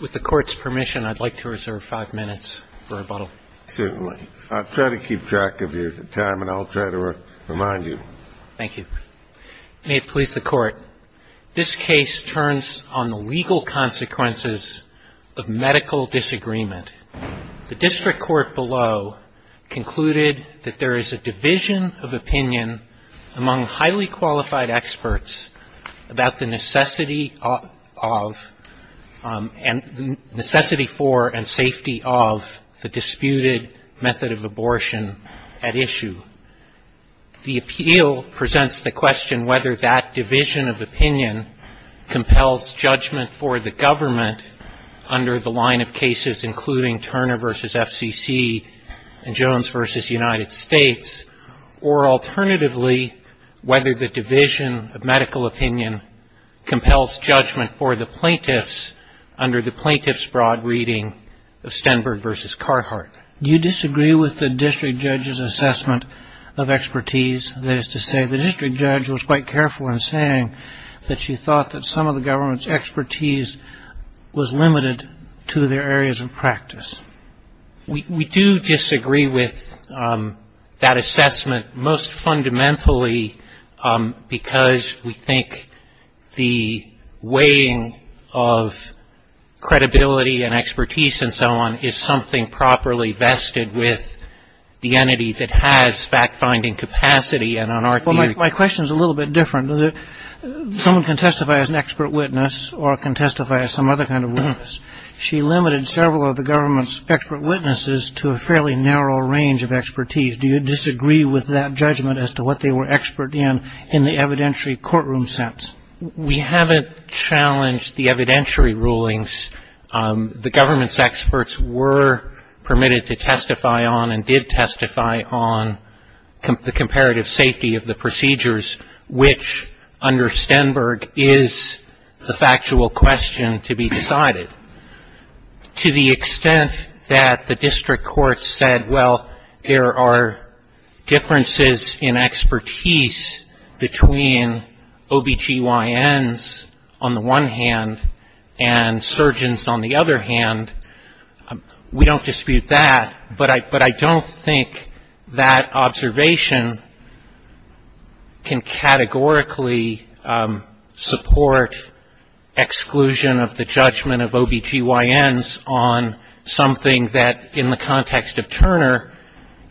With the Court's permission, I'd like to reserve five minutes for rebuttal. Certainly. I'll try to keep track of your time, and I'll try to remind you. Thank you. May it please the Court, this case turns on the legal consequences of medical disagreement. The district court below concluded that there is a division of opinion among highly qualified experts about the necessity for and safety of the disputed method of abortion at issue. The appeal presents the question whether that division of opinion compels judgment for the government under the line of cases including Turner v. FCC and Jones v. United States, or alternatively, whether the division of medical opinion compels judgment for the plaintiffs under the plaintiffs' broad reading of Stenberg v. Carhartt. Do you disagree with the district judge's assessment of expertise? That is to say, the district judge was quite careful in saying that she thought that some of the government's expertise was limited to their areas of practice. We do disagree with that assessment, most fundamentally because we think the weighing of credibility and expertise and so on is something properly vested with the entity that has fact-finding capacity. My question is a little bit different. Someone can testify as an expert witness or can testify as some other kind of witness. She limited several of the government's expert witnesses to a fairly narrow range of expertise. Do you disagree with that judgment as to what they were expert in in the evidentiary courtroom sense? We haven't challenged the evidentiary rulings. The government's experts were permitted to testify on and did testify on the comparative safety of the procedures, which under Stenberg is the factual question to be decided. To the extent that the district court said, well, there are differences in expertise between OBGYNs on the one hand and surgeons on the other hand, we don't dispute that. But I don't think that observation can categorically support exclusion of the judgment of OBGYNs on something that in the context of Turner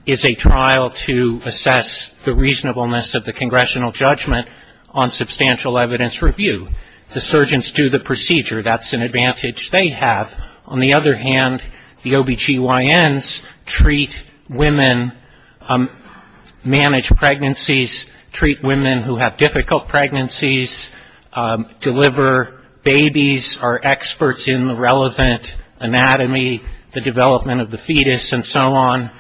is a trial to assess the reasonableness of the congressional judgment on substantial evidence review. The surgeons do the procedure. That's an advantage they have. On the other hand, the OBGYNs treat women, manage pregnancies, treat women who have difficult pregnancies, deliver babies, are experts in the relevant anatomy, the development of the fetus and so on.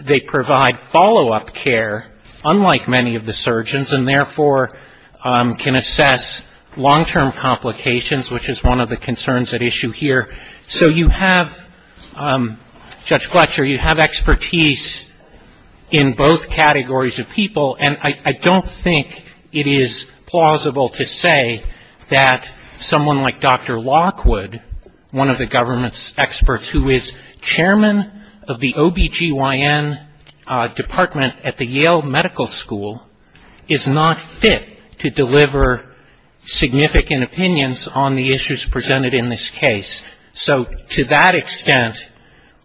They provide follow-up care, unlike many of the surgeons, and therefore can assess long-term complications, which is one of the concerns at issue here. So you have, Judge Fletcher, you have expertise in both categories of people, and I don't think it is plausible to say that someone like Dr. Lockwood, one of the government's experts, who is chairman of the OBGYN department at the Yale Medical School, is not fit to deliver significant opinions on the issues presented in this case. So to that extent,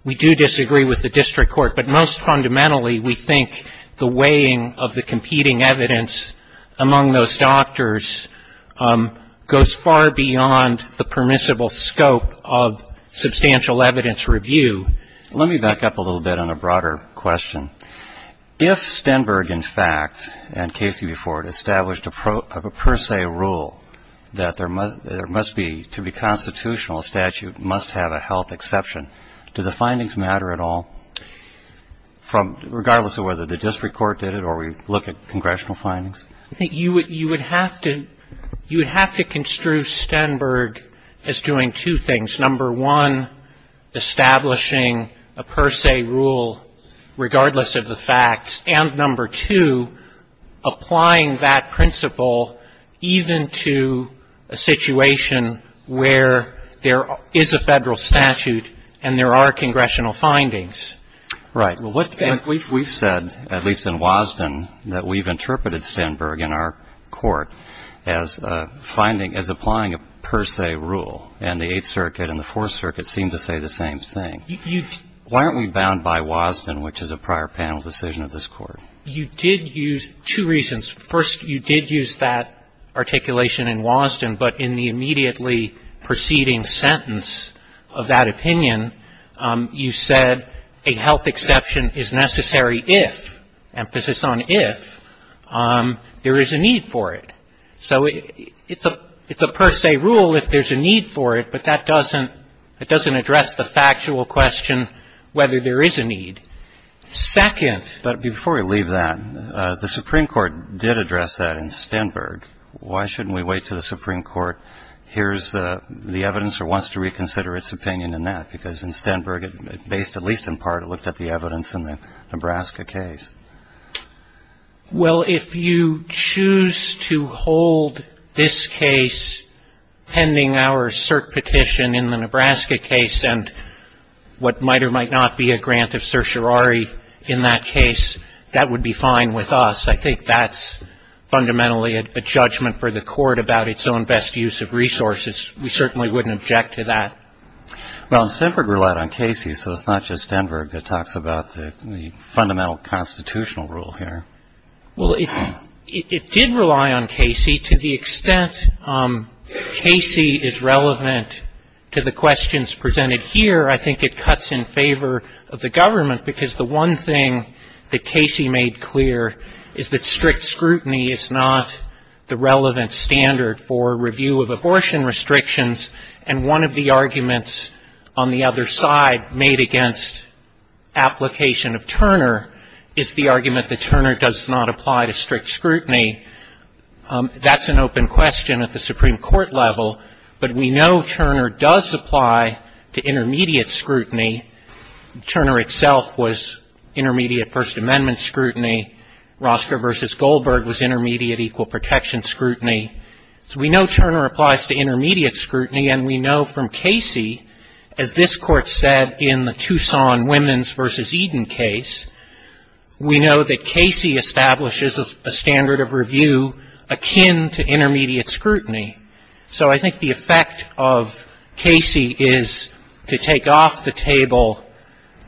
we do disagree with the district court. But most fundamentally, we think the weighing of the competing evidence among those doctors goes far beyond the permissible scope of substantial evidence review. Let me back up a little bit on a broader question. If Stenberg, in fact, and Casey before it, established a per se rule that there must be, to be constitutional, a statute must have a health exception, do the findings matter at all, regardless of whether the district court did it or we look at congressional findings? I think you would have to construe Stenberg as doing two things. Number one, establishing a per se rule regardless of the facts. And number two, applying that principle even to a situation where there is a federal statute and there are congressional findings. Right. We've said, at least in Wasden, that we've interpreted Stenberg in our court as applying a per se rule. And the Eighth Circuit and the Fourth Circuit seem to say the same thing. Why aren't we bound by Wasden, which is a prior panel decision of this Court? You did use two reasons. First, you did use that articulation in Wasden, but in the immediately preceding sentence of that opinion, you said a health exception is necessary if, emphasis on if, there is a need for it. So it's a per se rule if there's a need for it, but that doesn't address the factual question whether there is a need. Second. But before we leave that, the Supreme Court did address that in Stenberg. Why shouldn't we wait until the Supreme Court hears the evidence or wants to reconsider its opinion in that? Because in Stenberg, based at least in part, it looked at the evidence in the Nebraska case. Well, if you choose to hold this case pending our cert petition in the Nebraska case and what might or might not be a grant of certiorari in that case, that would be fine with us. I think that's fundamentally a judgment for the Court about its own best use of resources. We certainly wouldn't object to that. Well, Stenberg relied on Casey, so it's not just Stenberg that talks about the fundamental constitutional rule here. Well, it did rely on Casey. To the extent Casey is relevant to the questions presented here, I think it cuts in favor of the government, because the one thing that Casey made clear is that strict scrutiny is not the relevant standard for review of abortion restrictions. And one of the arguments on the other side made against application of Turner is the argument that Turner does not apply to strict scrutiny. That's an open question at the Supreme Court level, but we know Turner does apply to intermediate scrutiny. Turner itself was intermediate First Amendment scrutiny. Rostra v. Goldberg was intermediate equal protection scrutiny. We know Turner applies to intermediate scrutiny, and we know from Casey, as this Court said in the Tucson women's v. Eden case, we know that Casey establishes a standard of review akin to intermediate scrutiny. So I think the effect of Casey is to take off the table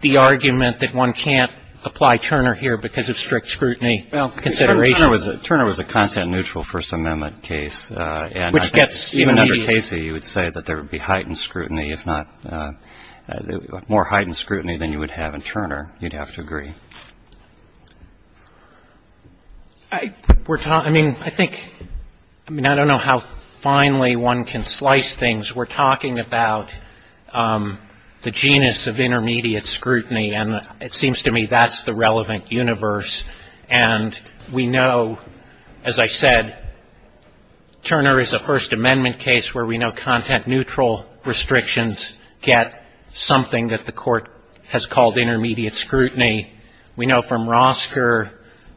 the argument that one can't apply Turner here because of strict scrutiny considerations. Turner was a constant neutral First Amendment case, and I think even under Casey you would say that there would be heightened scrutiny, if not more heightened scrutiny than you would have in Turner. You'd have to agree. I mean, I think, I mean, I don't know how finely one can slice things. We're talking about the genus of intermediate scrutiny, and it seems to me that's the relevant universe. And we know, as I said, Turner is a First Amendment case where we know content neutral restrictions get something that the Court has called intermediate scrutiny. We know from Rostra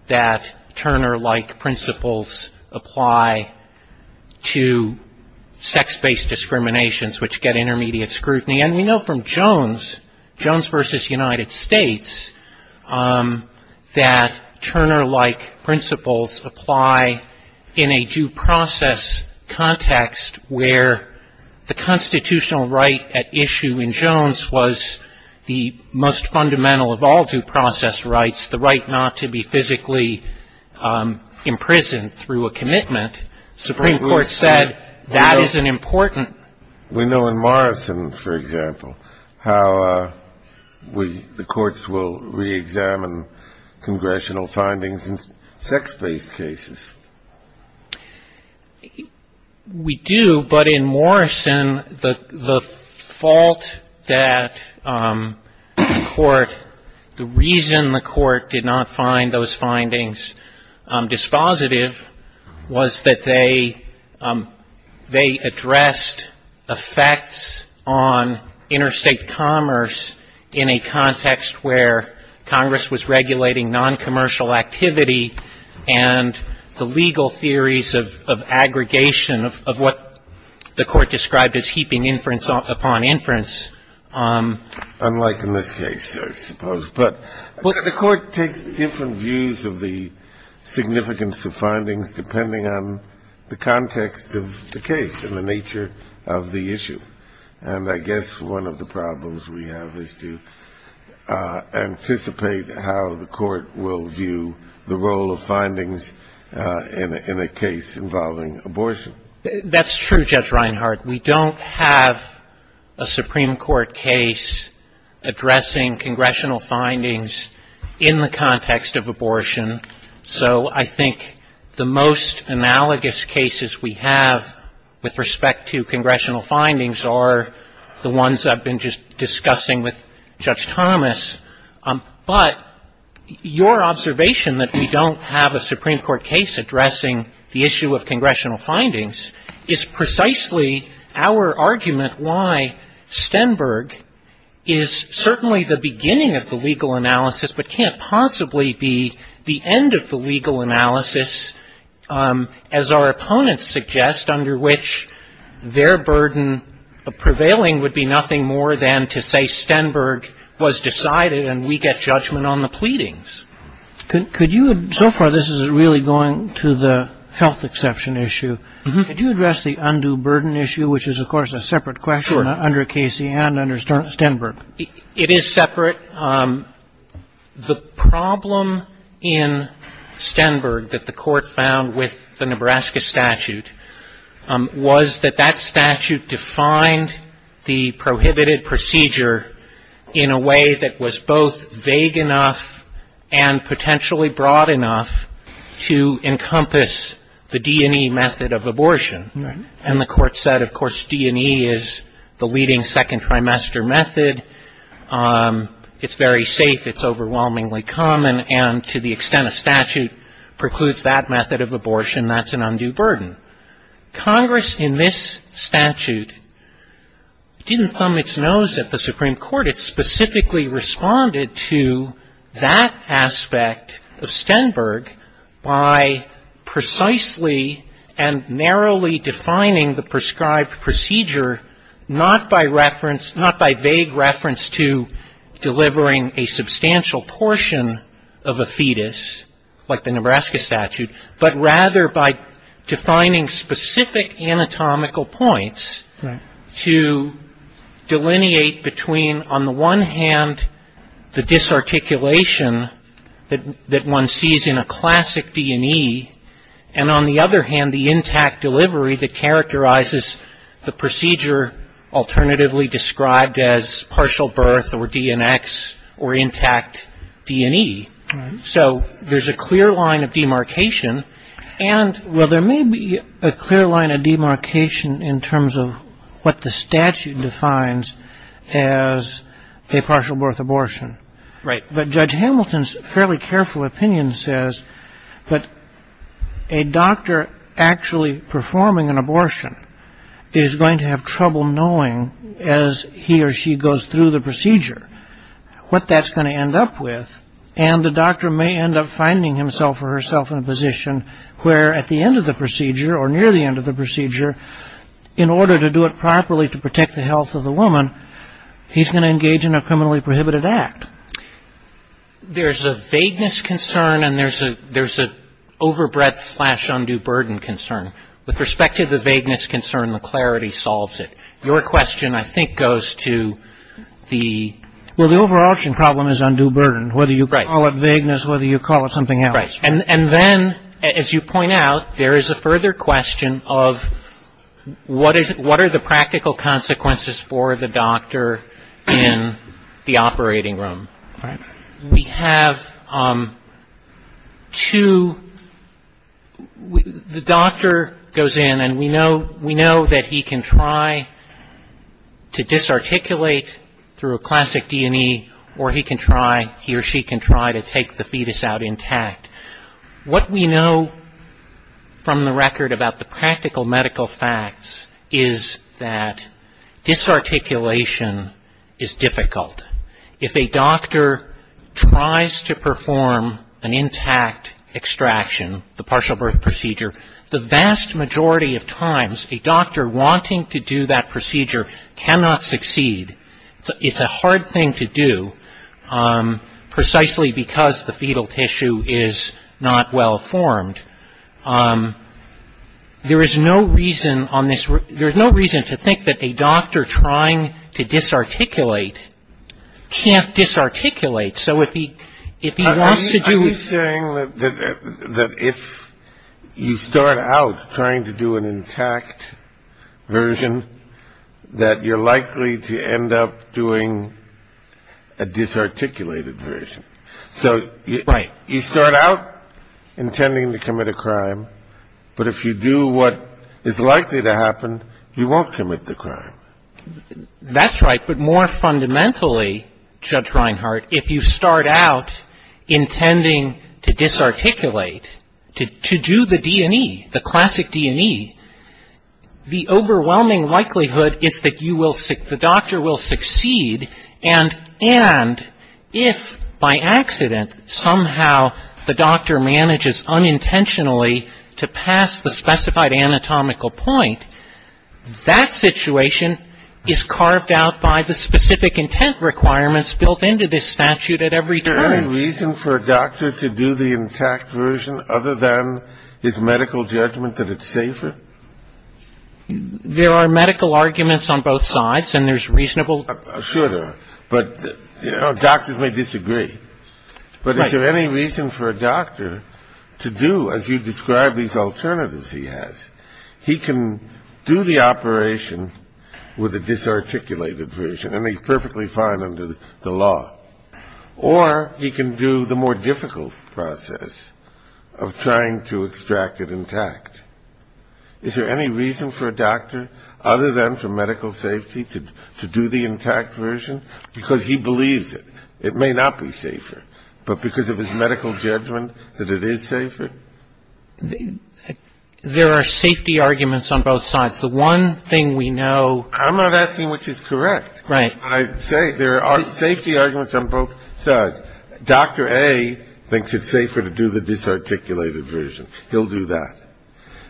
that Turner-like principles apply to sex-based discriminations, which get intermediate scrutiny. And we know from Jones, Jones v. United States, that Turner-like principles apply in a due process context where the constitutional right at issue in Jones was the most fundamental of all due process rights, the right not to be physically imprisoned through a commitment. Supreme Court said that is an important. We know in Morrison, for example, how we, the courts will reexamine congressional findings in sex-based cases. We do, but in Morrison, the fault that the Court, the reason the Court did not find those findings dispositive was that they, they addressed the fact that the Court had effects on interstate commerce in a context where Congress was regulating noncommercial activity and the legal theories of, of aggregation of, of what the Court described as heaping inference upon inference. Kennedy. Unlike in this case, I suppose. But the Court takes different views of the significance of findings depending on the context of the case and the nature of the issue. And I guess one of the problems we have is to anticipate how the Court will view the role of findings in a case involving abortion. That's true, Judge Reinhart. We don't have a Supreme Court case addressing congressional findings in the context of abortion. So I think the most analogous cases we have with respect to congressional findings are the ones I've been just discussing with Judge Thomas. But your observation that we don't have a Supreme Court case addressing the issue of congressional findings is precisely our argument why Stenberg is certainly the beginning of the legal analysis, but can't possibly be the end of the legal analysis, as our opponents suggest, under which their burden of prevailing would be nothing more than to say Stenberg was decided and we get judgment on the pleadings. Could you, so far this is really going to the health exception issue. Could you address the undue burden issue, which is, of course, a separate question under Casey and under Stenberg? It is separate. The problem in Stenberg that the Court found with the Nebraska statute was that that statute defined the prohibited procedure in a way that was both vague enough and potentially broad enough to encompass the D&E method of abortion. And the Court said, of course, D&E is the leading second trimester method. It's very safe. It's overwhelmingly common. And to the extent a statute precludes that method of abortion, that's an undue burden. Congress in this statute didn't thumb its nose at the Supreme Court. It specifically responded to that aspect of Stenberg by precisely and narrowly defining the prescribed procedure, not by vague reference to delivering a substantial portion of a fetus, like the Nebraska statute, but rather by defining specific anatomical points to delineate between, on the one hand, the disarticulation that one sees in a classic D&E, and on the other hand, the intact delivery that characterizes the procedure alternatively described as partial birth or D&X or intact D&E. So there's a clear line of demarcation. And, well, there may be a clear line of demarcation in terms of what the statute defines as a partial birth abortion. Right. But Judge Hamilton's fairly careful opinion says that a doctor actually performing an abortion is going to have trouble knowing as he or she goes through the procedure what that's going to end up with, and the doctor may end up finding himself or herself in a position where at the end of the procedure or near the end of the procedure, in order to do it properly to protect the health of the woman, he's going to engage in a criminally prohibited act. There's a vagueness concern, and there's an overbreadth slash undue burden concern. With respect to the vagueness concern, the clarity solves it. Your question, I think, goes to the ‑‑ Well, the overabortion problem is undue burden, whether you call it vagueness, whether you call it something else. And then, as you point out, there is a further question of what are the practical consequences for the doctor in the operating room. We have two ‑‑ the doctor goes in, and we know that he can try to disarticulate through a classic D&E, or he can try, he or she can try to take the fetus out intact. What we know from the record about the practical medical facts is that disarticulation is difficult. If a doctor tries to perform an intact extraction, the partial birth procedure, the vast majority of times, a doctor wanting to do that procedure cannot succeed. It's a hard thing to do, precisely because the fetal tissue is not well formed. There is no reason on this ‑‑ there's no reason to think that a doctor trying to disarticulate can't disarticulate. So if he wants to do ‑‑ Are you saying that if you start out trying to do an intact version, that you're likely to end up doing a disarticulated version? So you start out intending to commit a crime, but if you do what is likely to happen, you won't commit the crime. That's right, but more fundamentally, Judge Reinhart, if you start out intending to disarticulate, to do the D&E, the classic D&E, the overwhelming likelihood is that you will ‑‑ the doctor will succeed, and if by accident, somehow the doctor manages unintentionally to pass the specified anatomical point, that situation is carved out by the specific intent requirements built into this statute at every turn. Is there any reason for a doctor to do the intact version other than his medical judgment that it's safer? There are medical arguments on both sides, and there's reasonable ‑‑ Sure there are, but doctors may disagree. But is there any reason for a doctor to do, as you describe these alternatives he has, he can do the operation with a disarticulated version, and he's perfectly fine under the law, or he can do the more difficult process of trying to extract it intact. Is there any reason for a doctor, other than for medical safety, to do the intact version? Because he believes it. It may not be safer, but because of his medical judgment that it is safer? There are safety arguments on both sides. The one thing we know ‑‑ I'm not asking which is correct. I say there are safety arguments on both sides. Dr. A thinks it's safer to do the disarticulated version. He'll do that.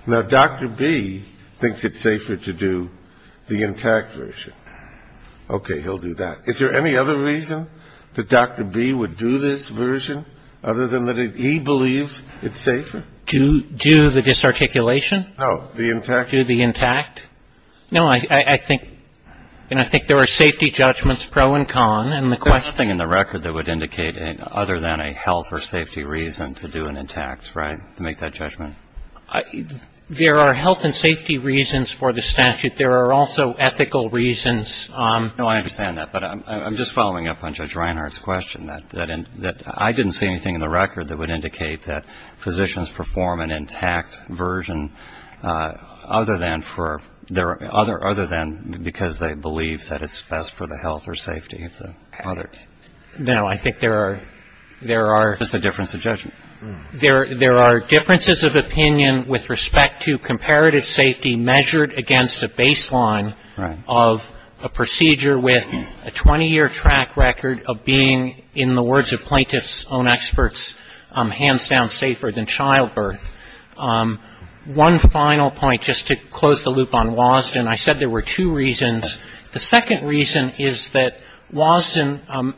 Now, Dr. B thinks it's safer to do the intact version. Okay, he'll do that. Is there any other reason that Dr. B would do this version other than that he believes it's safer? Do the disarticulation? No. Do the intact? No, I think ‑‑ and I think there are safety judgments pro and con in the question. There's nothing in the record that would indicate other than a health or safety reason to do an intact, right, to make that judgment? There are health and safety reasons for the statute. There are also ethical reasons. No, I understand that, but I'm just following up on Judge Reinhart's question that I didn't see anything in the record that would indicate that physicians perform an intact version other than for ‑‑ other than because they believe that it's best for the health or safety of the other. No, I think there are ‑‑ Just a difference of judgment. There are differences of opinion with respect to comparative safety measured against a baseline of a procedure with a 20‑year track record of being, in the words of plaintiff's own experts, hands down safer than childbirth. One final point, just to close the loop on Wasden. I said there were two reasons. The second reason is that Wasden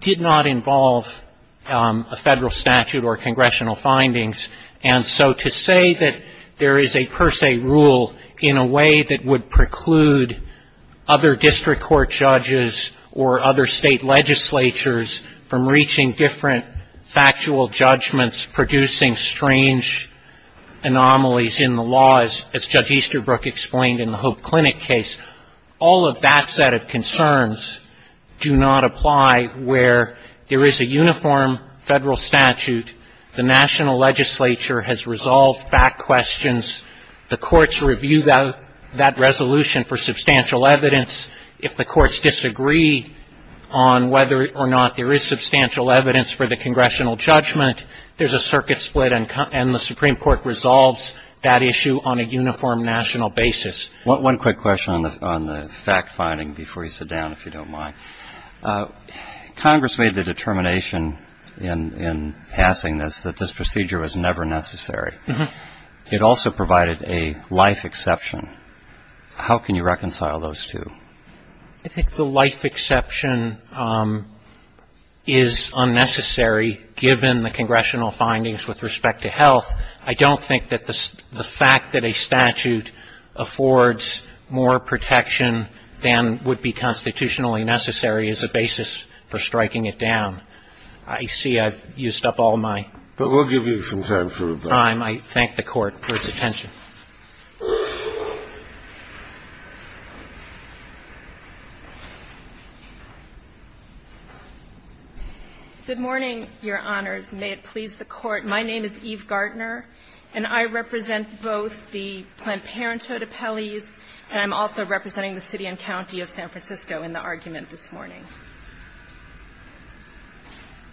did not involve a federal statute or congressional findings, and so to say that there is a per se rule in a way that would preclude other district court judges or other state legislatures from reaching different factual judgments, producing strange anomalies in the laws, as Judge Easterbrook explained in the Hope Clinic case, all of that set of concerns do not apply where there is a uniform federal statute, the national legislature has resolved fact questions, the courts review that resolution for substantial evidence. If the courts disagree on whether or not there is substantial evidence for the congressional judgment, there's a circuit split and the Supreme Court resolves that issue on a uniform national basis. One quick question on the fact finding before you sit down, if you don't mind. Congress made the determination in passing this that this procedure was never necessary. It also provided a life exception. How can you reconcile those two? I think the life exception is unnecessary given the congressional findings with respect to health. I don't think that the fact that a statute affords more protection than would be constitutionally necessary is a basis for striking it down. I see I've used up all my time. I thank the Court for its attention. Good morning, Your Honors. May it please the Court. My name is Eve Gardner, and I represent both the Planned Parenthood appellees and I'm also representing the city and county of San Francisco in the argument this morning.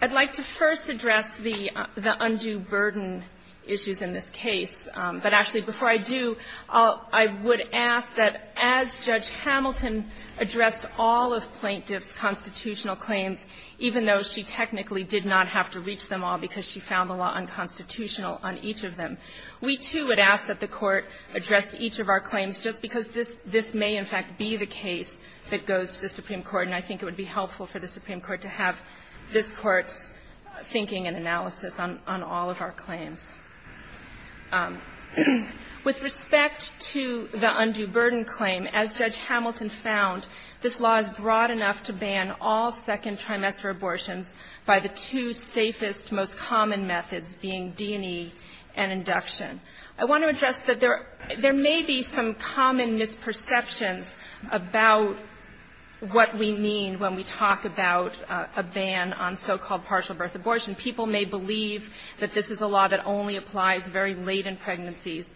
I'd like to first address the undue burden issues in this case. But actually, before I do, I would ask that as Judge Hamilton addressed all of Plaintiff's We, too, would ask that the Court address each of our claims just because this may, in fact, be the case that goes to the Supreme Court, and I think it would be helpful for the Supreme Court to have this Court's thinking and analysis on all of our claims. With respect to the undue burden claim, as Judge Hamilton found, this law is broad being D&E and induction. I want to address that there may be some common misperceptions about what we mean when we talk about a ban on so-called partial birth abortion. People may believe that this is a law that only applies very late in pregnancies,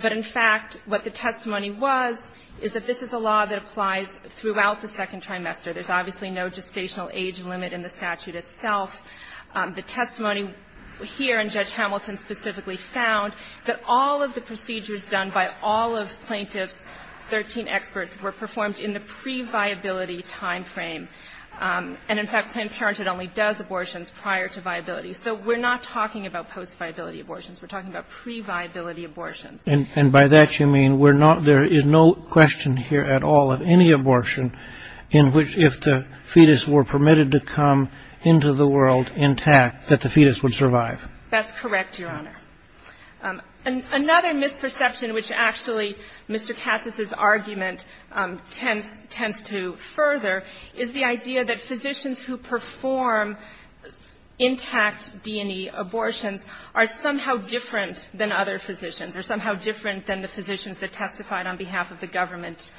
but in fact, what the testimony was is that this is a law that applies throughout the second trimester. There's obviously no gestational age limit in the statute itself. The testimony here, and Judge Hamilton specifically found, that all of the procedures done by all of Plaintiff's 13 experts were performed in the pre-viability time frame. And in fact, Planned Parenthood only does abortions prior to viability. So we're not talking about post-viability abortions. We're talking about pre-viability abortions. And by that, you mean there is no question here at all of any abortion in which, if the fetus were permitted to come into the world intact, that the fetus would survive. That's correct, Your Honor. Another misperception, which actually Mr. Katz's argument tends to further, is the idea that physicians who perform intact D&E abortions are somehow different than other physicians, are somehow different than the physicians that testified on behalf of the government.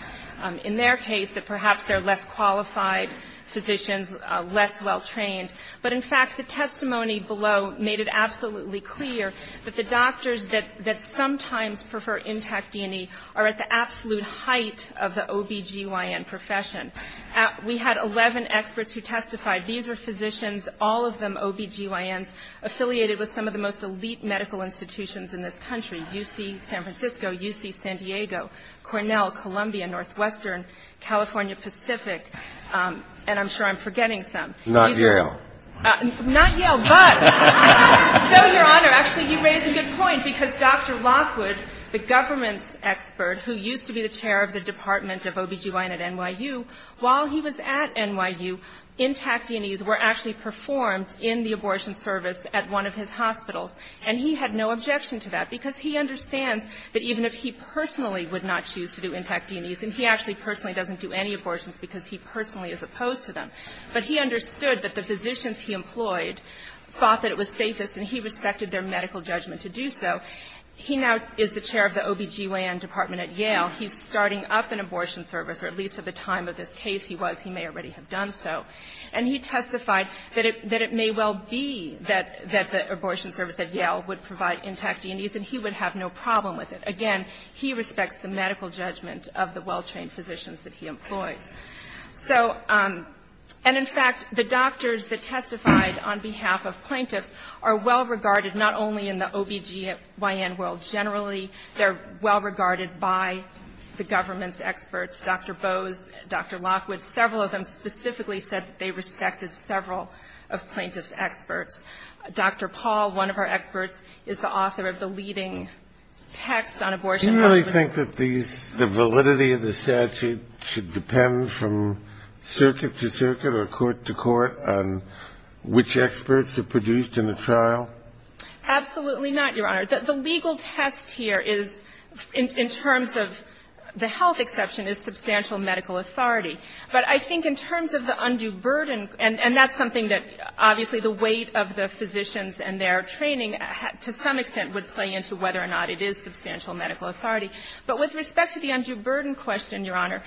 In their case, that perhaps they're less qualified physicians, less well trained. But in fact, the testimony below made it absolutely clear that the doctors that sometimes prefer intact D&E are at the absolute height of the OBGYN profession. We had 11 experts who testified. These are physicians, all of them OBGYNs, affiliated with some of the most elite medical institutions in this country, UC San Francisco, UC San Diego, Cornell, Columbia, Northwestern, California Pacific, and I'm sure I'm forgetting some. Not Yale. Not Yale, but no, Your Honor. Actually, you raise a good point, because Dr. Lockwood, the government expert who used to be the chair of the Department of OBGYN at NYU, while he was at NYU, intact D&Es were actually performed in the abortion service at one of his hospitals. And he had no objection to that, because he understands that even if he personally would not choose to do intact D&Es, and he actually personally doesn't do any abortions because he personally is opposed to them, but he understood that the physicians he employed thought that it was safest, and he respected their medical judgment to do so. He now is the chair of the OBGYN department at Yale. He's starting up an abortion service, or at least at the time of this case he was, he may already have done so. And he testified that it may well be that the abortion service at Yale would provide intact D&Es, and he would have no problem with it. Again, he respects the medical judgment of the well-trained physicians that he employs. So, and in fact, the doctors that testified on behalf of plaintiffs are well-regarded not only in the OBGYN world generally, they're well-regarded by the government's experts, Dr. Bose, Dr. Lockwood. Several of them specifically said that they respected several of plaintiffs' experts. Dr. Paul, one of our experts, is the author of the leading text on abortion. Kennedy. Do you really think that these, the validity of the statute should depend from circuit to circuit or court to court on which experts are produced in the trial? Absolutely not, Your Honor. The legal test here is, in terms of the health exception, is substantial medical authority. But I think in terms of the undue burden, and that's something that, obviously, the weight of the physicians and their training, to some extent, would play into whether or not it is substantial medical authority. But with respect to the undue burden question, Your Honor,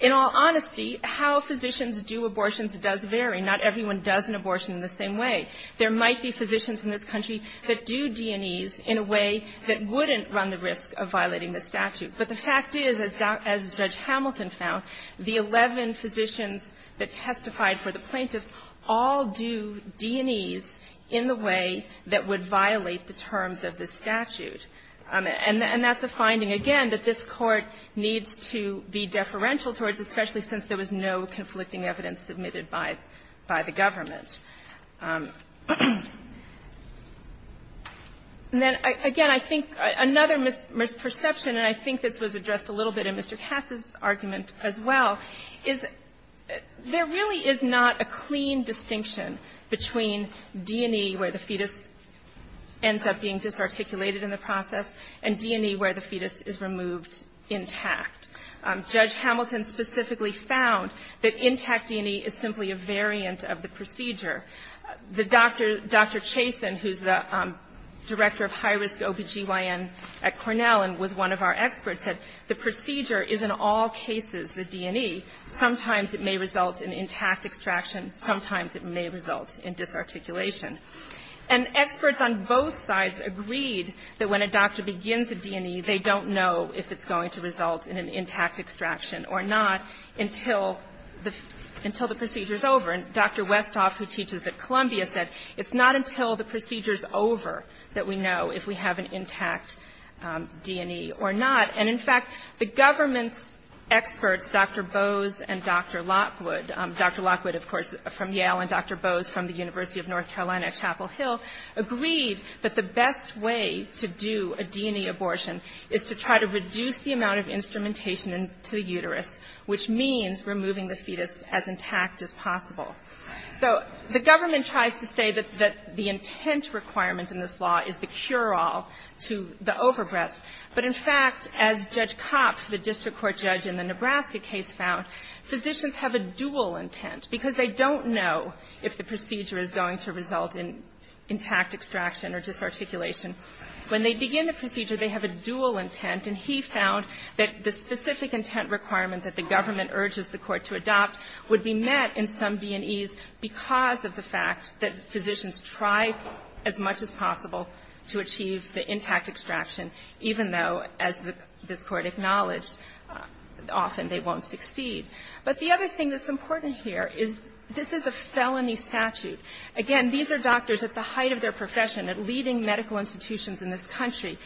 in all honesty, how physicians do abortions does vary. Not everyone does an abortion in the same way. There might be physicians in this country that do D&Es in a way that wouldn't run the risk of violating the statute. But the fact is, as Judge Hamilton found, the 11 physicians that testified for the plaintiffs all do D&Es in the way that would violate the terms of the statute. And that's a finding, again, that this Court needs to be deferential towards, especially since there was no conflicting evidence submitted by the government. And then, again, I think another misperception, and I think this was addressed a little bit in Mr. Katz's argument as well, is there really is not a clean distinction between D&E, where the fetus ends up being disarticulated in the process, and D&E, where the fetus is removed intact. Judge Hamilton specifically found that intact D&E is simply a variant of the procedure The doctor, Dr. Chason, who's the director of high-risk OBGYN at Cornell and was one of our experts, said the procedure is in all cases the D&E. Sometimes it may result in intact extraction. Sometimes it may result in disarticulation. And experts on both sides agreed that when a doctor begins a D&E, they don't know if it's going to result in an intact extraction or not until the procedure's over. And Dr. Westhoff, who teaches at Columbia, said it's not until the procedure's over that we know if we have an intact D&E or not. And, in fact, the government's experts, Dr. Bose and Dr. Lockwood, Dr. Lockwood, of course, from Yale, and Dr. Bose from the University of North Carolina at Chapel Hill, agreed that the best way to do a D&E abortion is to try to reduce the amount of instrumentation to the uterus, which means removing the fetus as intact as possible. So the government tries to say that the intent requirement in this law is the cure-all to the overbreath. But, in fact, as Judge Kopp, the district court judge in the Nebraska case, found, physicians have a dual intent because they don't know if the procedure is going to result in intact extraction or disarticulation. When they begin the procedure, they have a dual intent, and he found that the specific intent requirement that the government urges the court to adopt would be met in some D&Es because of the fact that physicians try as much as possible to achieve the intact extraction, even though, as this Court acknowledged, often they won't succeed. But the other thing that's important here is this is a felony statute. Again, these are doctors at the height of their profession, at leading medical institutions in this country.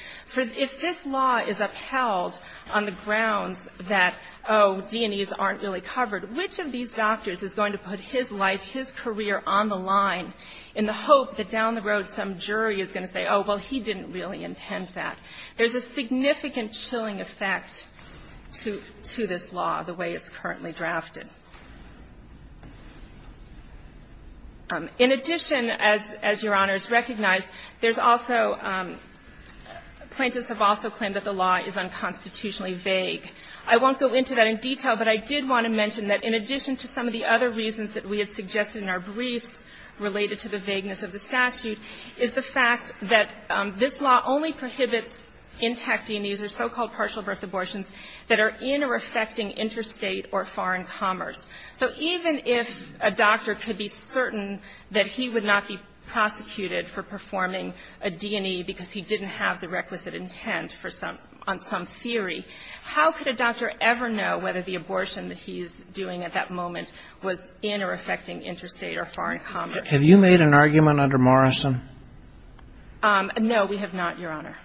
If this law is upheld on the grounds that, oh, D&Es aren't really covered, which of these doctors is going to put his life, his career on the line in the hope that down the road some jury is going to say, oh, well, he didn't really intend that? There's a significant chilling effect to this law, the way it's currently drafted. In addition, as Your Honors recognize, there's also – plaintiffs have also claimed that the law is unconstitutionally vague. I won't go into that in detail, but I did want to mention that in addition to some of the other reasons that we had suggested in our briefs related to the vagueness of the statute is the fact that this law only prohibits intact D&Es or so-called partial birth abortions that are in or affecting interstate or foreign commerce. So even if a doctor could be certain that he would not be prosecuted for performing a D&E because he didn't have the requisite intent for some – on some theory, how could a doctor ever know whether the abortion that he's doing at that moment was in or affecting interstate or foreign commerce? Have you made an argument under Morrison? No, we have not, Your Honor.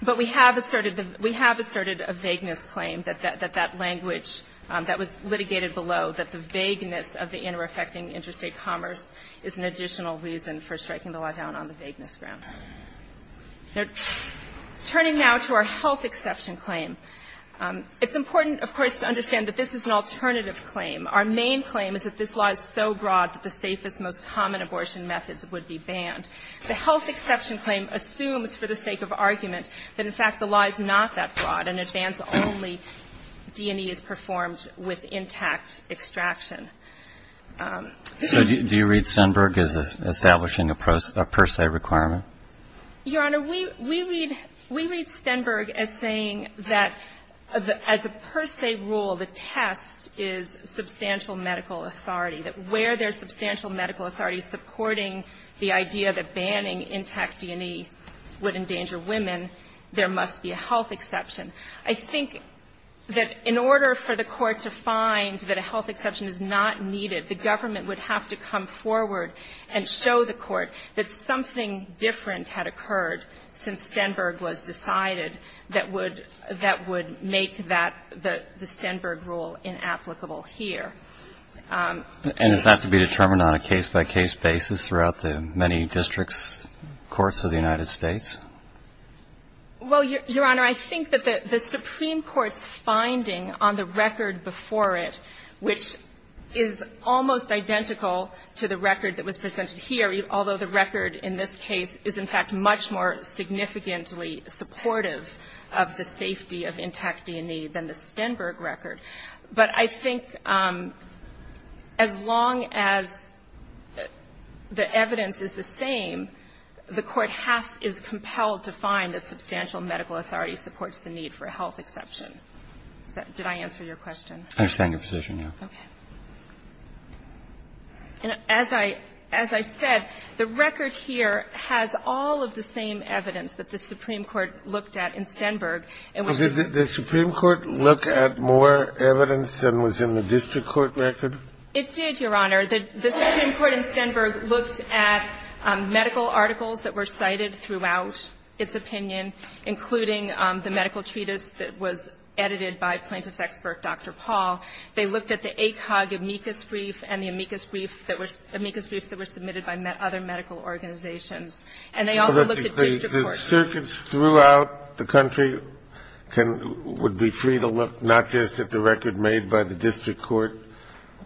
But we have asserted – we have asserted a vagueness claim that that language that was litigated below, that the vagueness of the in or affecting interstate commerce is an additional reason for striking the law down on the vagueness grounds. Now, turning now to our health exception claim, it's important, of course, to understand that this is an alternative claim. Our main claim is that this law is so broad that the safest, most common abortion methods would be banned. The health exception claim assumes for the sake of argument that, in fact, the law is not that broad, and it bans only D&Es performed with intact extraction. So do you read Stenberg as establishing a per se requirement? Your Honor, we read – we read Stenberg as saying that as a per se rule, the test is substantial medical authority, that where there's substantial medical authority supporting the idea that banning intact D&E would endanger women, there must be a health exception. I think that in order for the Court to find that a health exception is not needed, the government would have to come forward and show the Court that something different had occurred since Stenberg was decided that would make that – the Stenberg rule inapplicable here. And does that have to be determined on a case-by-case basis throughout the many districts' courts of the United States? Well, Your Honor, I think that the Supreme Court's finding on the record before it, which is almost identical to the record that was presented here, although the record in this case is, in fact, much more significantly supportive of the safety of intact D&E than the Stenberg record. But I think as long as the evidence is the same, the Court has – is compelled to find that substantial medical authority supports the need for a health exception. Did I answer your question? I understand your position, yes. Okay. And as I – as I said, the record here has all of the same evidence that the Supreme Court looked at in Stenberg. Did the Supreme Court look at more evidence than was in the district court record? It did, Your Honor. The Supreme Court in Stenberg looked at medical articles that were cited throughout its opinion, including the medical treatise that was edited by plaintiff's expert, Dr. Paul. They looked at the ACOG amicus brief and the amicus brief that were – amicus briefs that were submitted by other medical organizations. And they also looked at district courts. But the circuits throughout the country can – would be free to look not just at the record made by the district court,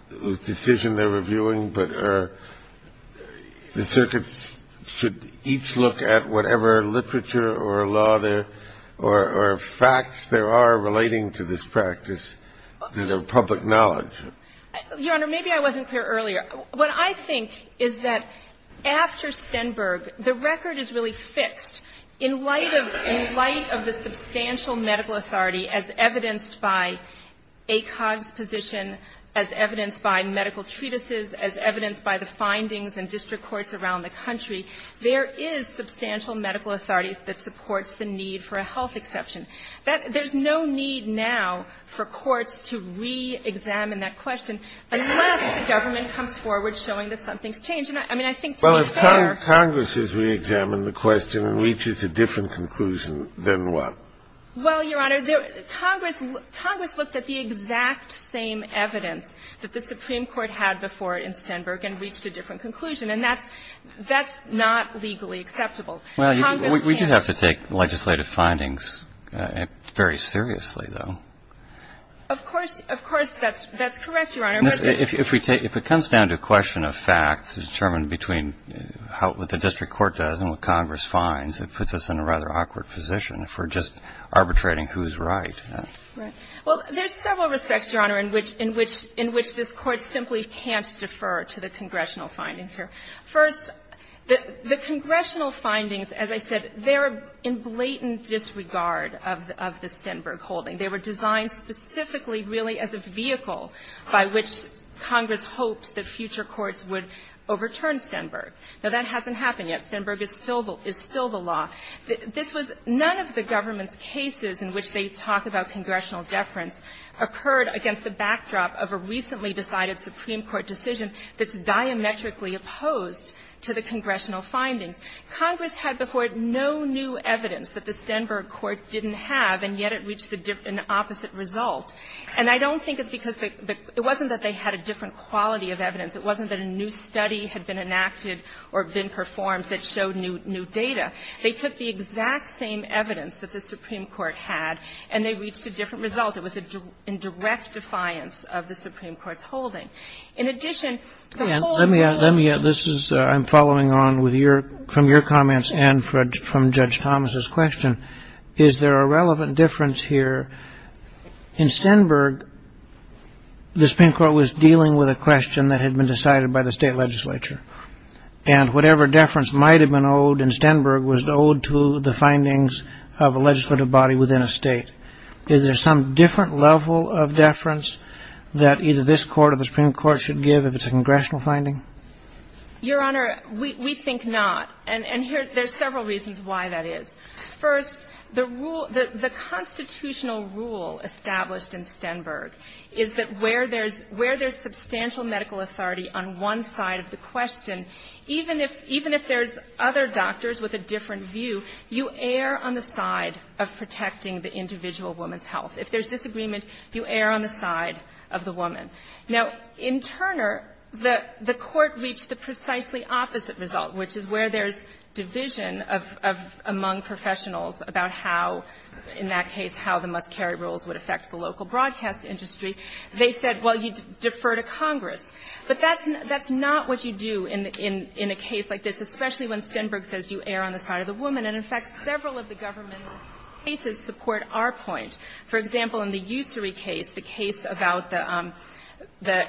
the decision they're reviewing, but the circuits should each look at whatever literature or law there – or facts there are relating to this practice that are public knowledge. Your Honor, maybe I wasn't clear earlier. What I think is that after Stenberg, the record is really fixed in light of – in light of the substantial medical authority as evidenced by ACOG's position, as evidenced by medical treatises, as evidenced by the findings in district courts around the country, there is substantial medical authority that supports the need for a health exception. That – there's no need now for courts to reexamine that question unless the government comes forward showing that something's changed. And I mean, I think to be fair – Well, if Congress has reexamined the question and reaches a different conclusion, then what? Well, Your Honor, Congress – Congress looked at the exact same evidence that the Supreme Court had before in Stenberg and reached a different conclusion. And that's – that's not legally acceptable. Congress can't – Well, we do have to take legislative findings very seriously, though. Of course – of course, that's – that's correct, Your Honor. If we take – if it comes down to a question of facts determined between how – what the district court does and what Congress finds, it puts us in a rather awkward position for just arbitrating who's right. Right. Well, there's several respects, Your Honor, in which – in which – in which this Court simply can't defer to the congressional findings here. First, the congressional findings, as I said, they're in blatant disregard of the Stenberg holding. They were designed specifically really as a vehicle by which Congress hoped that future courts would overturn Stenberg. Now, that hasn't happened yet. Stenberg is still the – is still the law. This was – none of the government's cases in which they talk about congressional deference occurred against the backdrop of a recently decided Supreme Court decision that's diametrically opposed to the congressional findings. Congress had before it no new evidence that the Stenberg court didn't have, and yet it reached an opposite result. And I don't think it's because the – it wasn't that they had a different quality of evidence. It wasn't that a new study had been enacted or been performed that showed new data. They took the exact same evidence that the Supreme Court had, and they reached a different result. It was a – in direct defiance of the Supreme Court's holding. In addition, the holding – Let me – let me – this is – I'm following on with your – from your comments and from Judge Thomas's question. Is there a relevant difference here? In Stenberg, the Supreme Court was dealing with a question that had been decided by the state legislature, and whatever deference might have been owed in Stenberg was owed to the findings of a legislative body within a state. Is there some different level of deference that either this Court or the Supreme Court should give if it's a congressional finding? Your Honor, we think not. And here – there's several reasons why that is. First, the rule – the constitutional rule established in Stenberg is that where there's – where there's substantial medical authority on one side of the question, even if – even if there's other doctors with a different view, you err on the side of protecting the individual woman's health. If there's disagreement, you err on the side of the woman. Now, in Turner, the – the Court reached the precisely opposite result, which is where there's division of – of – among professionals about how, in that case, how the must-carry rules would affect the local broadcast industry. They said, well, you defer to Congress. But that's – that's not what you do in – in a case like this, especially when Stenberg says you err on the side of the woman. And, in fact, several of the government cases support our point. For example, in the Ussery case, the case about the – the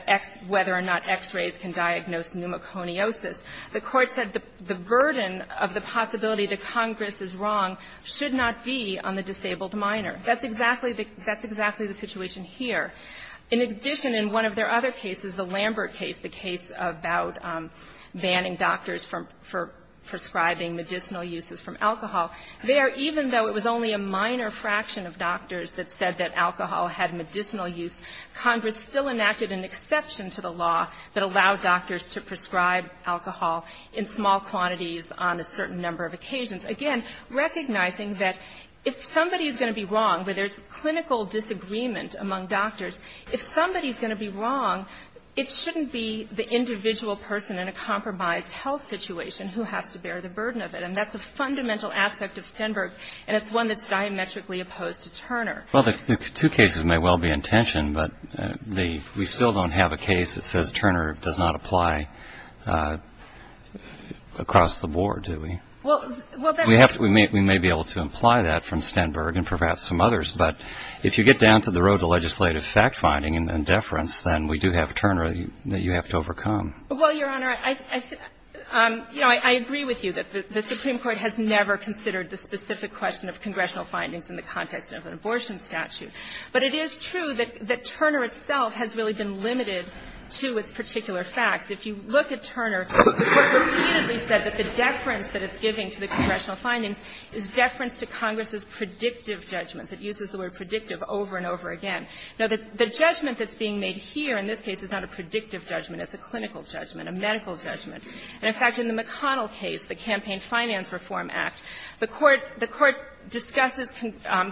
whether or not X-rays can diagnose pneumoconiosis, the Court said the burden of the possibility that Congress is wrong should not be on the disabled minor. That's exactly the – that's exactly the situation here. In addition, in one of their other cases, the Lambert case, the case about banning doctors from – for prescribing medicinal uses from alcohol, there, even though it was only a minor fraction of doctors that said that alcohol had medicinal use, Congress still enacted an exception to the law that allowed doctors to prescribe alcohol in small quantities on a certain number of occasions, again, recognizing that if somebody is going to be wrong, where there's clinical disagreement among doctors, if somebody's going to be wrong, it shouldn't be the individual person in a compromised health situation who has to bear the burden of it. And that's a fundamental aspect of Stenberg, and it's one that's diametrically opposed to Turner. Well, the two cases may well be in tension, but the – we still don't have a case that says Turner does not apply across the board, do we? Well, that's – We have to – we may be able to imply that from Stenberg and perhaps some of the legislative fact-finding and deference, then we do have Turner that you have to overcome. Well, Your Honor, I – you know, I agree with you that the Supreme Court has never considered the specific question of congressional findings in the context of an abortion statute. But it is true that Turner itself has really been limited to its particular facts. If you look at Turner, the Court repeatedly said that the deference that it's giving to the congressional findings is deference to Congress's predictive judgments. It uses the word predictive over and over again. Now, the judgment that's being made here in this case is not a predictive judgment. It's a clinical judgment, a medical judgment. And in fact, in the McConnell case, the Campaign Finance Reform Act, the Court discusses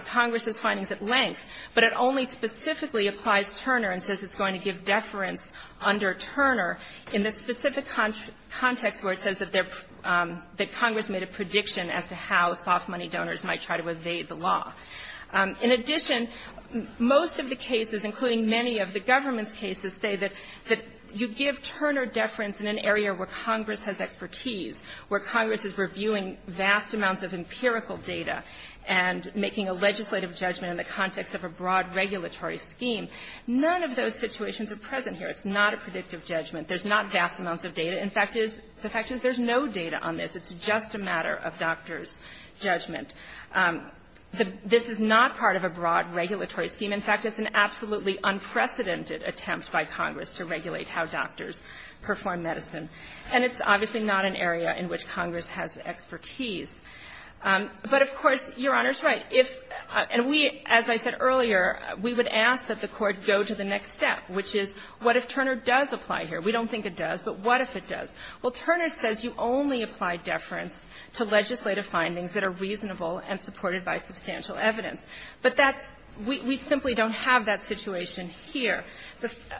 Congress's findings at length, but it only specifically applies Turner and says it's going to give deference under Turner in the specific context where it says that they're – that Congress made a prediction as to how soft money donors might try to evade the law. In addition, most of the cases, including many of the government's cases, say that you give Turner deference in an area where Congress has expertise, where Congress is reviewing vast amounts of empirical data and making a legislative judgment in the context of a broad regulatory scheme. None of those situations are present here. It's not a predictive judgment. There's not vast amounts of data. In fact, it is – the fact is there's no data on this. It's just a matter of doctor's judgment. This is not part of a broad regulatory scheme. In fact, it's an absolutely unprecedented attempt by Congress to regulate how doctors perform medicine. And it's obviously not an area in which Congress has expertise. But of course, Your Honor's right. If – and we, as I said earlier, we would ask that the Court go to the next step, which is what if Turner does apply here? We don't think it does, but what if it does? Well, Turner says you only apply deference to legislative findings that are reasonable and supported by substantial evidence. But that's – we simply don't have that situation here.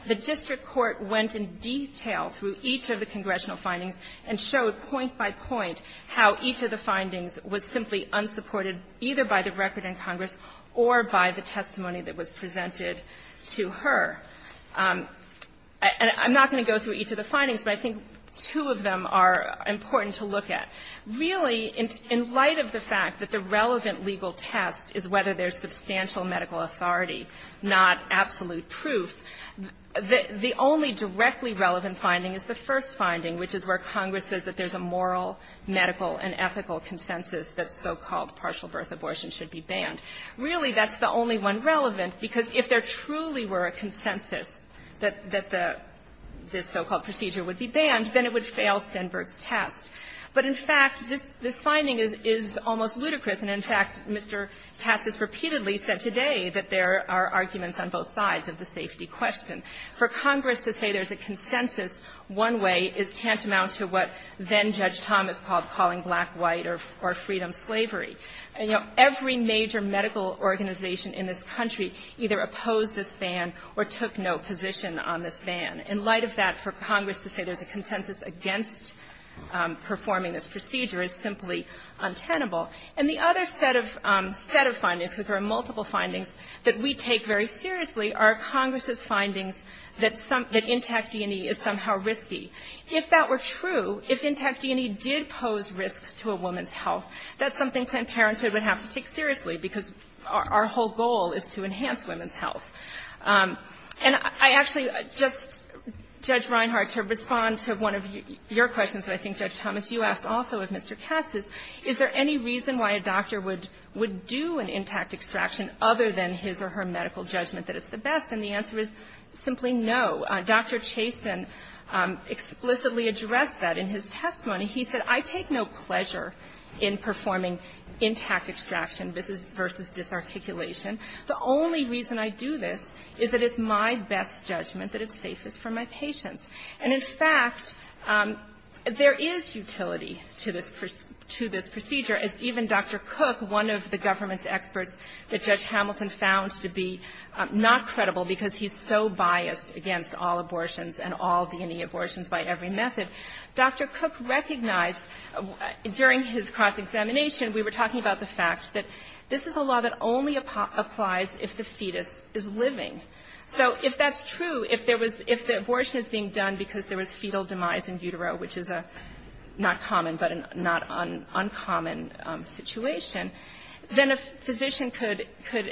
The district court went in detail through each of the congressional findings and showed point by point how each of the findings was simply unsupported either by the record in Congress or by the testimony that was presented to her. And I'm not going to go through each of the findings, but I think two of them are important to look at. Really, in light of the fact that the relevant legal test is whether there's substantial medical authority, not absolute proof, the only directly relevant finding is the first finding, which is where Congress says that there's a moral, medical, and ethical consensus that so-called partial birth abortion should be banned. Really, that's the only one relevant, because if there truly were a consensus that this so-called procedure would be banned, then it would fail Stenberg's test. But, in fact, this finding is almost ludicrous, and, in fact, Mr. Katz has repeatedly said today that there are arguments on both sides of the safety question. For Congress to say there's a consensus one way is tantamount to what then-Judge Thomas called calling black, white, or freedom slavery. You know, every major medical organization in this country either opposed this ban or took no position on this ban. In light of that, for Congress to say there's a consensus against performing this procedure is simply untenable. And the other set of findings, because there are multiple findings, that we take very seriously are Congress's findings that intact D&E is somehow risky. If that were true, if intact D&E did pose risks to a woman's health, that's something Planned Parenthood would have to take seriously, because our whole goal is to enhance women's health. And I actually just, Judge Reinhart, to respond to one of your questions that I think, Judge Thomas, you asked also of Mr. Katz, is there any reason why a doctor would do an intact extraction other than his or her medical judgment that it's the best? And the answer is simply no. Dr. Chaston explicitly addressed that in his testimony. He said, I take no pleasure in performing intact extraction versus disarticulation. The only reason I do this is that it's my best judgment that it's safest for my patients. And, in fact, there is utility to this procedure. As even Dr. Cook, one of the government's experts that Judge Hamilton found to be not credible because he's so biased against all abortions and all D&E abortions by every method, Dr. Cook recognized during his cross-examination, we were talking about the fact that this is a law that only applies if the fetus is living. So if that's true, if there was, if the abortion is being done because there was fetal demise in utero, which is a not common but not uncommon situation, then a physician could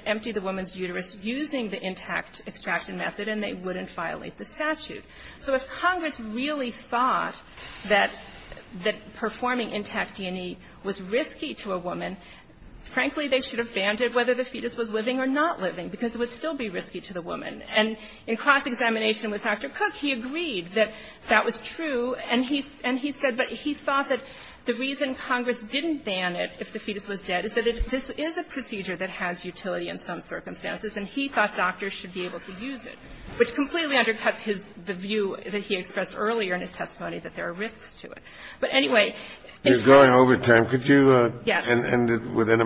empty the woman's uterus using the intact extraction method, and they wouldn't violate the statute. So if Congress really thought that performing intact D&E was risky to a woman, frankly, they should have banned it whether the fetus was living or not living, because it would still be risky to the woman. And in cross-examination with Dr. Cook, he agreed that that was true, and he said that he thought that the reason Congress didn't ban it if the fetus was dead is that this is a procedure that has utility in some circumstances, and he thought doctors should be able to use it, which completely undercuts his, the view that he expressed earlier in his testimony that there are risks to it. Within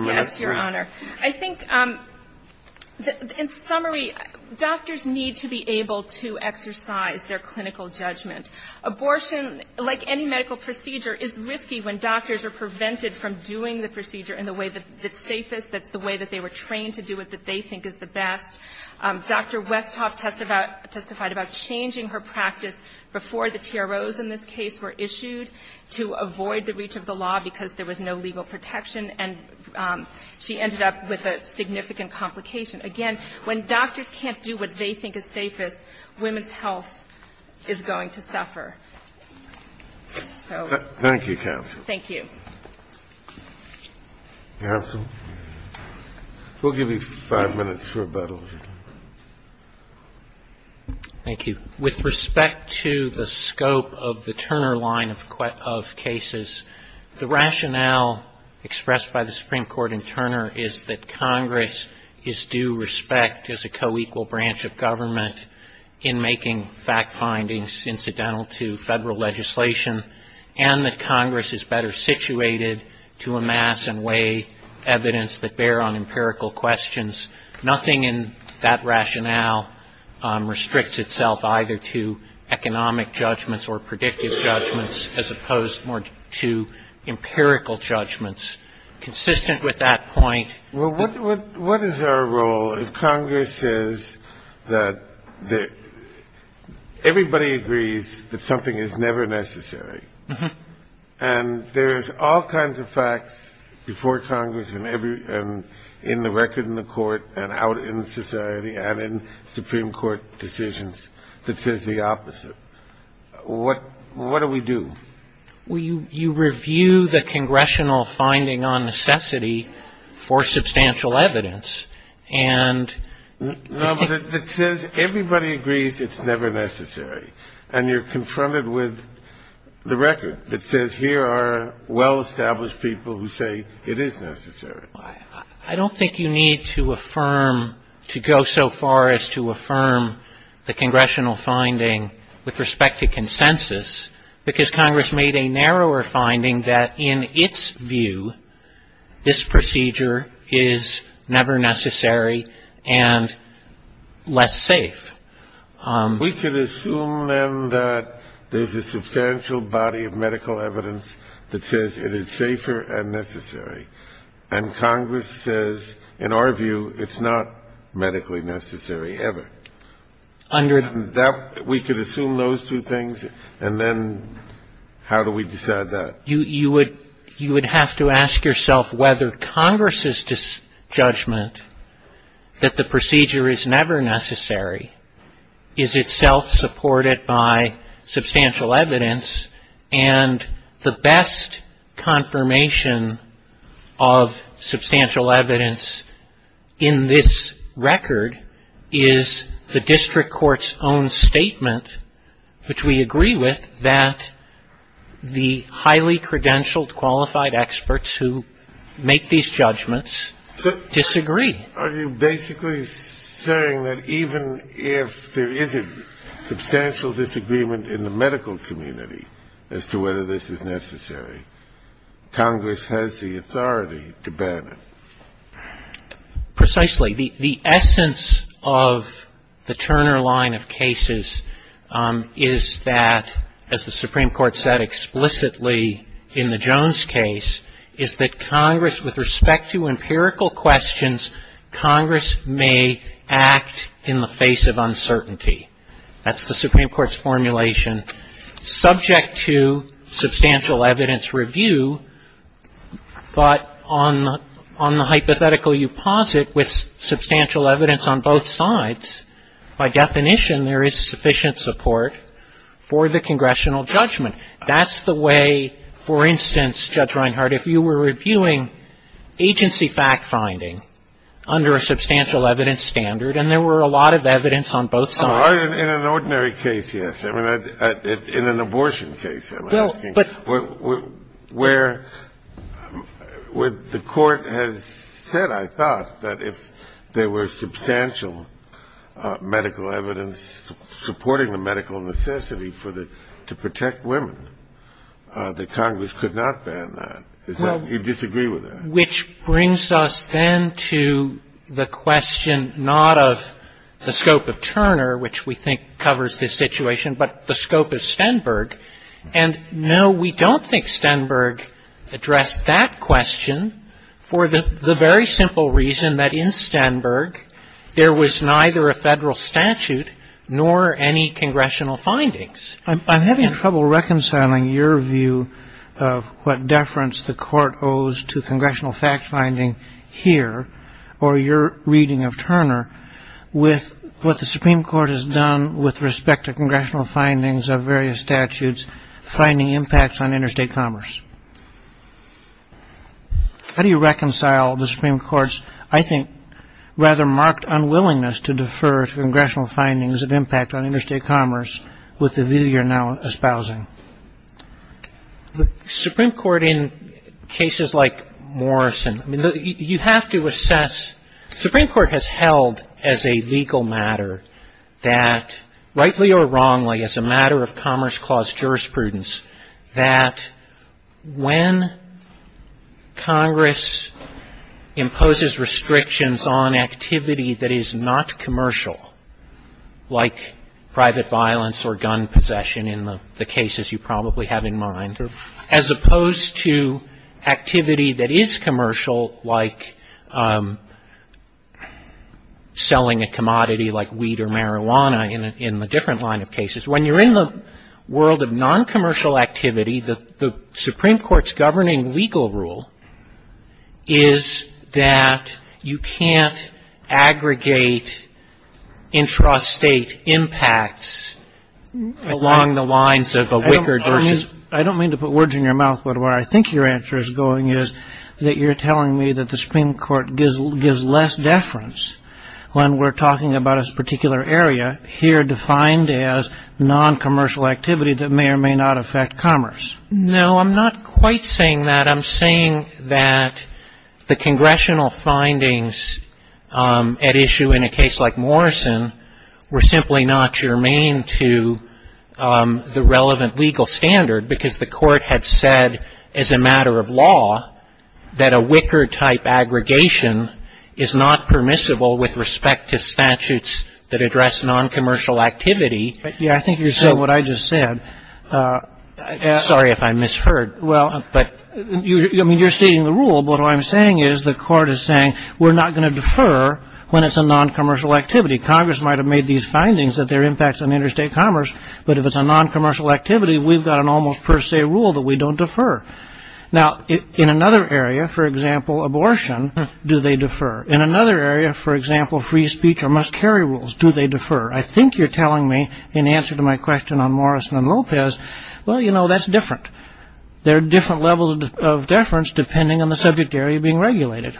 a minute, please. Yes, Your Honor. I think, in summary, doctors need to be able to exercise their clinical judgment. Abortion, like any medical procedure, is risky when doctors are prevented from doing the procedure in the way that's safest, that's the way that they were trained to do it, that they think is the best. Dr. Westhoff testified about changing her practice before the TROs in this case were issued to avoid the reach of the law because there was no legal protection, and she ended up with a significant complication. Again, when doctors can't do what they think is safest, women's health is going to suffer. So. Thank you, counsel. Thank you. Counsel, we'll give you five minutes for rebuttal. Thank you. With respect to the scope of the Turner line of cases, the rationale expressed by the Supreme Court in Turner is that Congress is due respect as a co-equal branch of government in making fact findings incidental to Federal legislation, and that Congress is better situated to amass and weigh evidence that bear on empirical questions. Nothing in that rationale restricts itself either to economic judgments or predictive judgments as opposed more to empirical judgments. Consistent with that point. Well, what is our role if Congress says that everybody agrees that something is never necessary, and there's all kinds of facts before Congress and in the record in the court, and out in society, and in Supreme Court decisions that says the opposite, what do we do? Well, you review the congressional finding on necessity for substantial evidence, and you think. No, but it says everybody agrees it's never necessary, and you're confronted with the record that says here are well-established people who say it is necessary. I don't think you need to affirm, to go so far as to affirm the congressional finding with respect to consensus, because Congress made a narrower finding that in its view, this procedure is never necessary and less safe. We can assume, then, that there's a substantial body of medical evidence that says it is safer and necessary, and Congress says, in our view, it's not medically necessary ever. Under that, we could assume those two things, and then how do we decide that? You would have to ask yourself whether Congress's judgment that the procedure is never necessary is itself supported by substantial evidence, and the best confirmation of substantial evidence in this record is the district court's own statement, which we agree with, that the highly credentialed, qualified experts who make these judgments disagree. Are you basically saying that even if there is a substantial disagreement in the medical community as to whether this is necessary, Congress has the authority to ban it? Precisely. The essence of the Turner line of cases is that, as the Supreme Court said explicitly in the Jones case, is that Congress, with respect to empirical questions, Congress may act in the face of uncertainty. That's the Supreme Court's formulation. Subject to substantial evidence review, but on the hypothetical you posit, with substantial evidence on both sides, by definition, there is sufficient support for the congressional judgment. That's the way, for instance, Judge Reinhart, if you were reviewing agency fact-finding under a substantial evidence standard, and there were a lot of evidence on both sides. In an ordinary case, yes. In an abortion case, I'm asking. Where the court has said, I thought, that if there were substantial medical evidence supporting the medical necessity to protect women, that Congress could not ban that. You disagree with that? Which brings us then to the question not of the scope of Turner, which we think covers this situation, but the scope of Stenberg. And, no, we don't think Stenberg addressed that question for the very simple reason that in Stenberg, there was neither a Federal statute nor any congressional findings. I'm having trouble reconciling your view of what deference the court owes to congressional fact-finding here, or your reading of Turner, with what the Supreme Court has done with respect to congressional findings of various statutes, finding impacts on interstate commerce. How do you reconcile the Supreme Court's, I think, rather marked unwillingness to defer to congressional findings of impact on interstate commerce with the view you're now espousing? The Supreme Court in cases like Morrison, you have to assess, the Supreme Court has held as a legal matter that, rightly or wrongly, as a matter of commerce clause jurisprudence, that when Congress imposes restrictions on activity that is not commercial, like private violence or gun possession in the cases you probably have in mind, as opposed to activity that is commercial, like selling a commodity like weed or marijuana in a different line of cases, when you're in the world of noncommercial activity, the Supreme Court's governing legal rule is that you can't have aggregate intrastate impacts along the lines of a wickered versus... I don't mean to put words in your mouth, but where I think your answer is going is that you're telling me that the Supreme Court gives less deference when we're talking about a particular area here defined as noncommercial activity that may or may not affect commerce. I think you're saying what I just said, sorry if I misheard, but you're stating the rule, but what I'm saying is the Court is saying we're not going to defer when it's a noncommercial activity. Congress might have made these findings that there are impacts on interstate commerce, but if it's a noncommercial activity, we've got an almost per se rule that we don't defer. Now, in another area, for example, abortion, do they defer? In another area, for example, free speech or must carry rules, do they defer? I think you're telling me, in answer to my question on Morrison and Lopez, well, you know, that's different. There are different levels of deference depending on the subject area being regulated.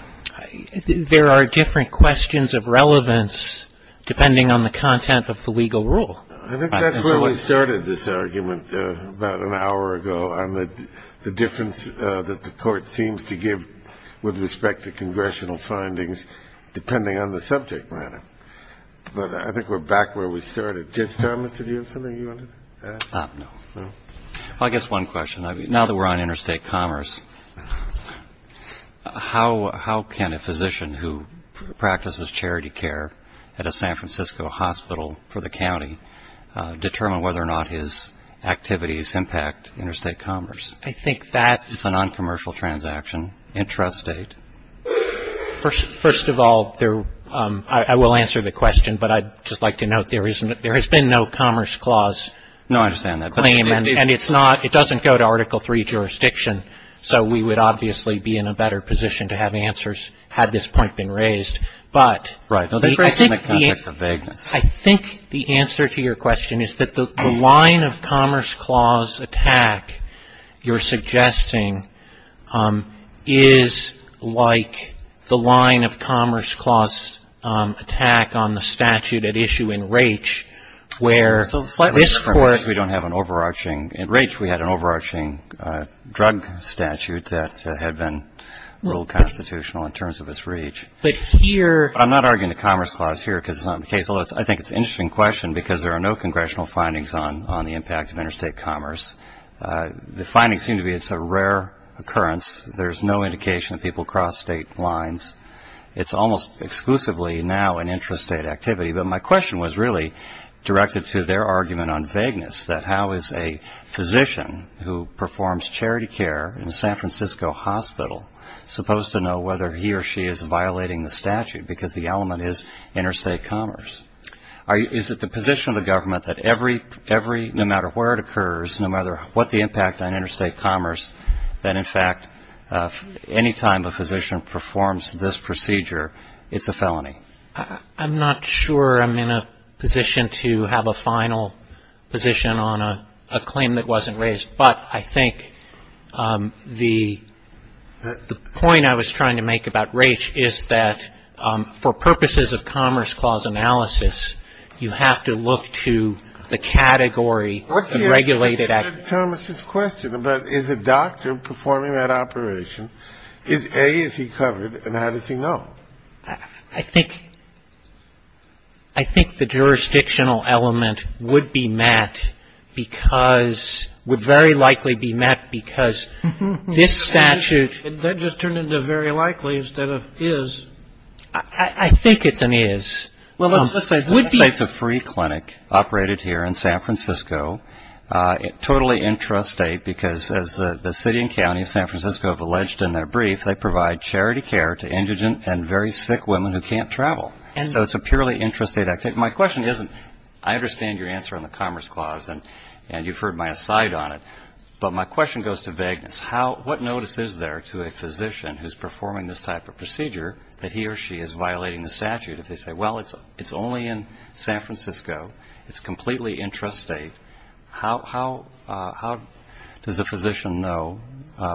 There are different questions of relevance depending on the content of the legal rule. I think that's where we started this argument about an hour ago on the difference that the Court seems to give with respect to congressional findings depending on the subject matter, but I think we're back where we started. Do you have something you want to add? No. Well, I guess one question. Now that we're on interstate commerce, how can a physician who practices charity care at a San Francisco hospital for the county determine whether or not his activities impact interstate commerce? I think that is a noncommercial transaction in trust state. First of all, I will answer the question, but I'd just like to note there has been no commerce clause claim, and it doesn't go to Article III jurisdiction, so we would obviously be in a better position to have answers had this point been raised. But I think the answer to your question is that the line of commerce clause attack you're suggesting is like the line of commerce clause attack on the statute at issue in Raich, where this Court... In Raich we had an overarching drug statute that had been ruled constitutional in terms of its reach. But I'm not arguing the commerce clause here because it's not the case. Although I think it's an interesting question because there are no congressional findings on the impact of interstate commerce. The findings seem to be it's a rare occurrence. There's no indication that people cross state lines. It's almost exclusively now an intrastate activity. But my question was really directed to their argument on vagueness, that how is a physician who performs charity care in a San Francisco hospital supposed to know whether he or she is violating the statute, because the element is interstate commerce? Is it the position of the government that every, no matter where it occurs, no matter what the impact on interstate commerce, that in fact any time a physician performs this procedure, it's a felony? I'm not sure I'm in a position to have a final position on a claim that wasn't raised. But I think the point I was trying to make about Raich is that for purposes of commerce clause analysis, you have to look to the category of regulated activity. Kennedy. What's your take on Thomas' question about is a doctor performing that operation? A, is he covered, and how does he know? I think the jurisdictional element would be met because, would very likely be met because this statute That just turned into very likely instead of is. I think it's an is. Let's say it's a free clinic operated here in San Francisco, totally intrastate, because as the city and county of San Francisco have alleged in their brief, they provide charity care to indigent and very sick women who can't travel. So it's a purely intrastate activity. My question isn't, I understand your answer on the commerce clause, and you've heard my aside on it, but my question goes to vagueness. What notice is there to a physician who's performing this type of procedure that he or she is violating the statute? If they say, well, it's only in San Francisco, it's completely intrastate, how does a physician know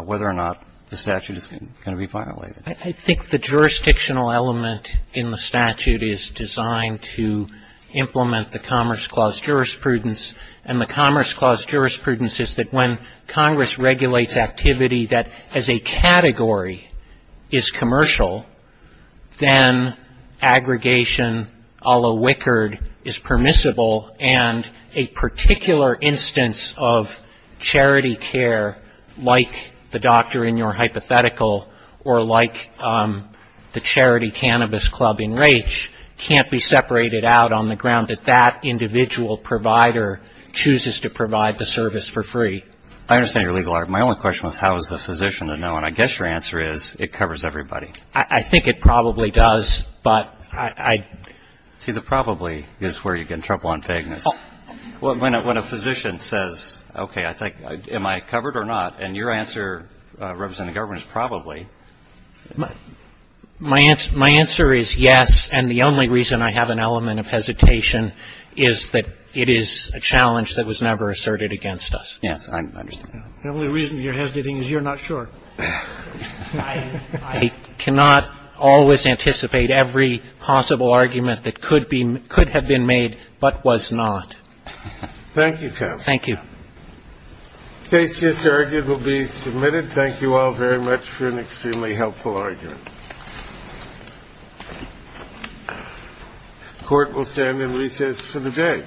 whether or not the statute is going to be violated? I think the jurisdictional element in the statute is designed to implement the commerce clause jurisprudence. And the commerce clause jurisprudence is that when Congress regulates activity that as a category is commercial, then aggregation, a la Wickard, is permissible, and a particular instance of charity care, like the doctor in your hypothetical, or like the charity cannabis club in Raich, can't be separated out on the ground that that individual provider is permitted. And that individual provider chooses to provide the service for free. I understand your legal argument. My only question was how is the physician to know, and I guess your answer is, it covers everybody. I think it probably does, but I see the probably is where you get in trouble on vagueness. When a physician says, okay, I think, am I covered or not, and your answer, Representative Governor, is probably. My answer is yes, and the only reason I have an element of hesitation is that it is a challenge that was never asserted against us. Yes, I understand. The only reason you're hesitating is you're not sure. I cannot always anticipate every possible argument that could have been made, but was not. Thank you, counsel. Thank you. The case just argued will be submitted. Thank you all very much for an extremely helpful argument. The court will stand in recess for the day.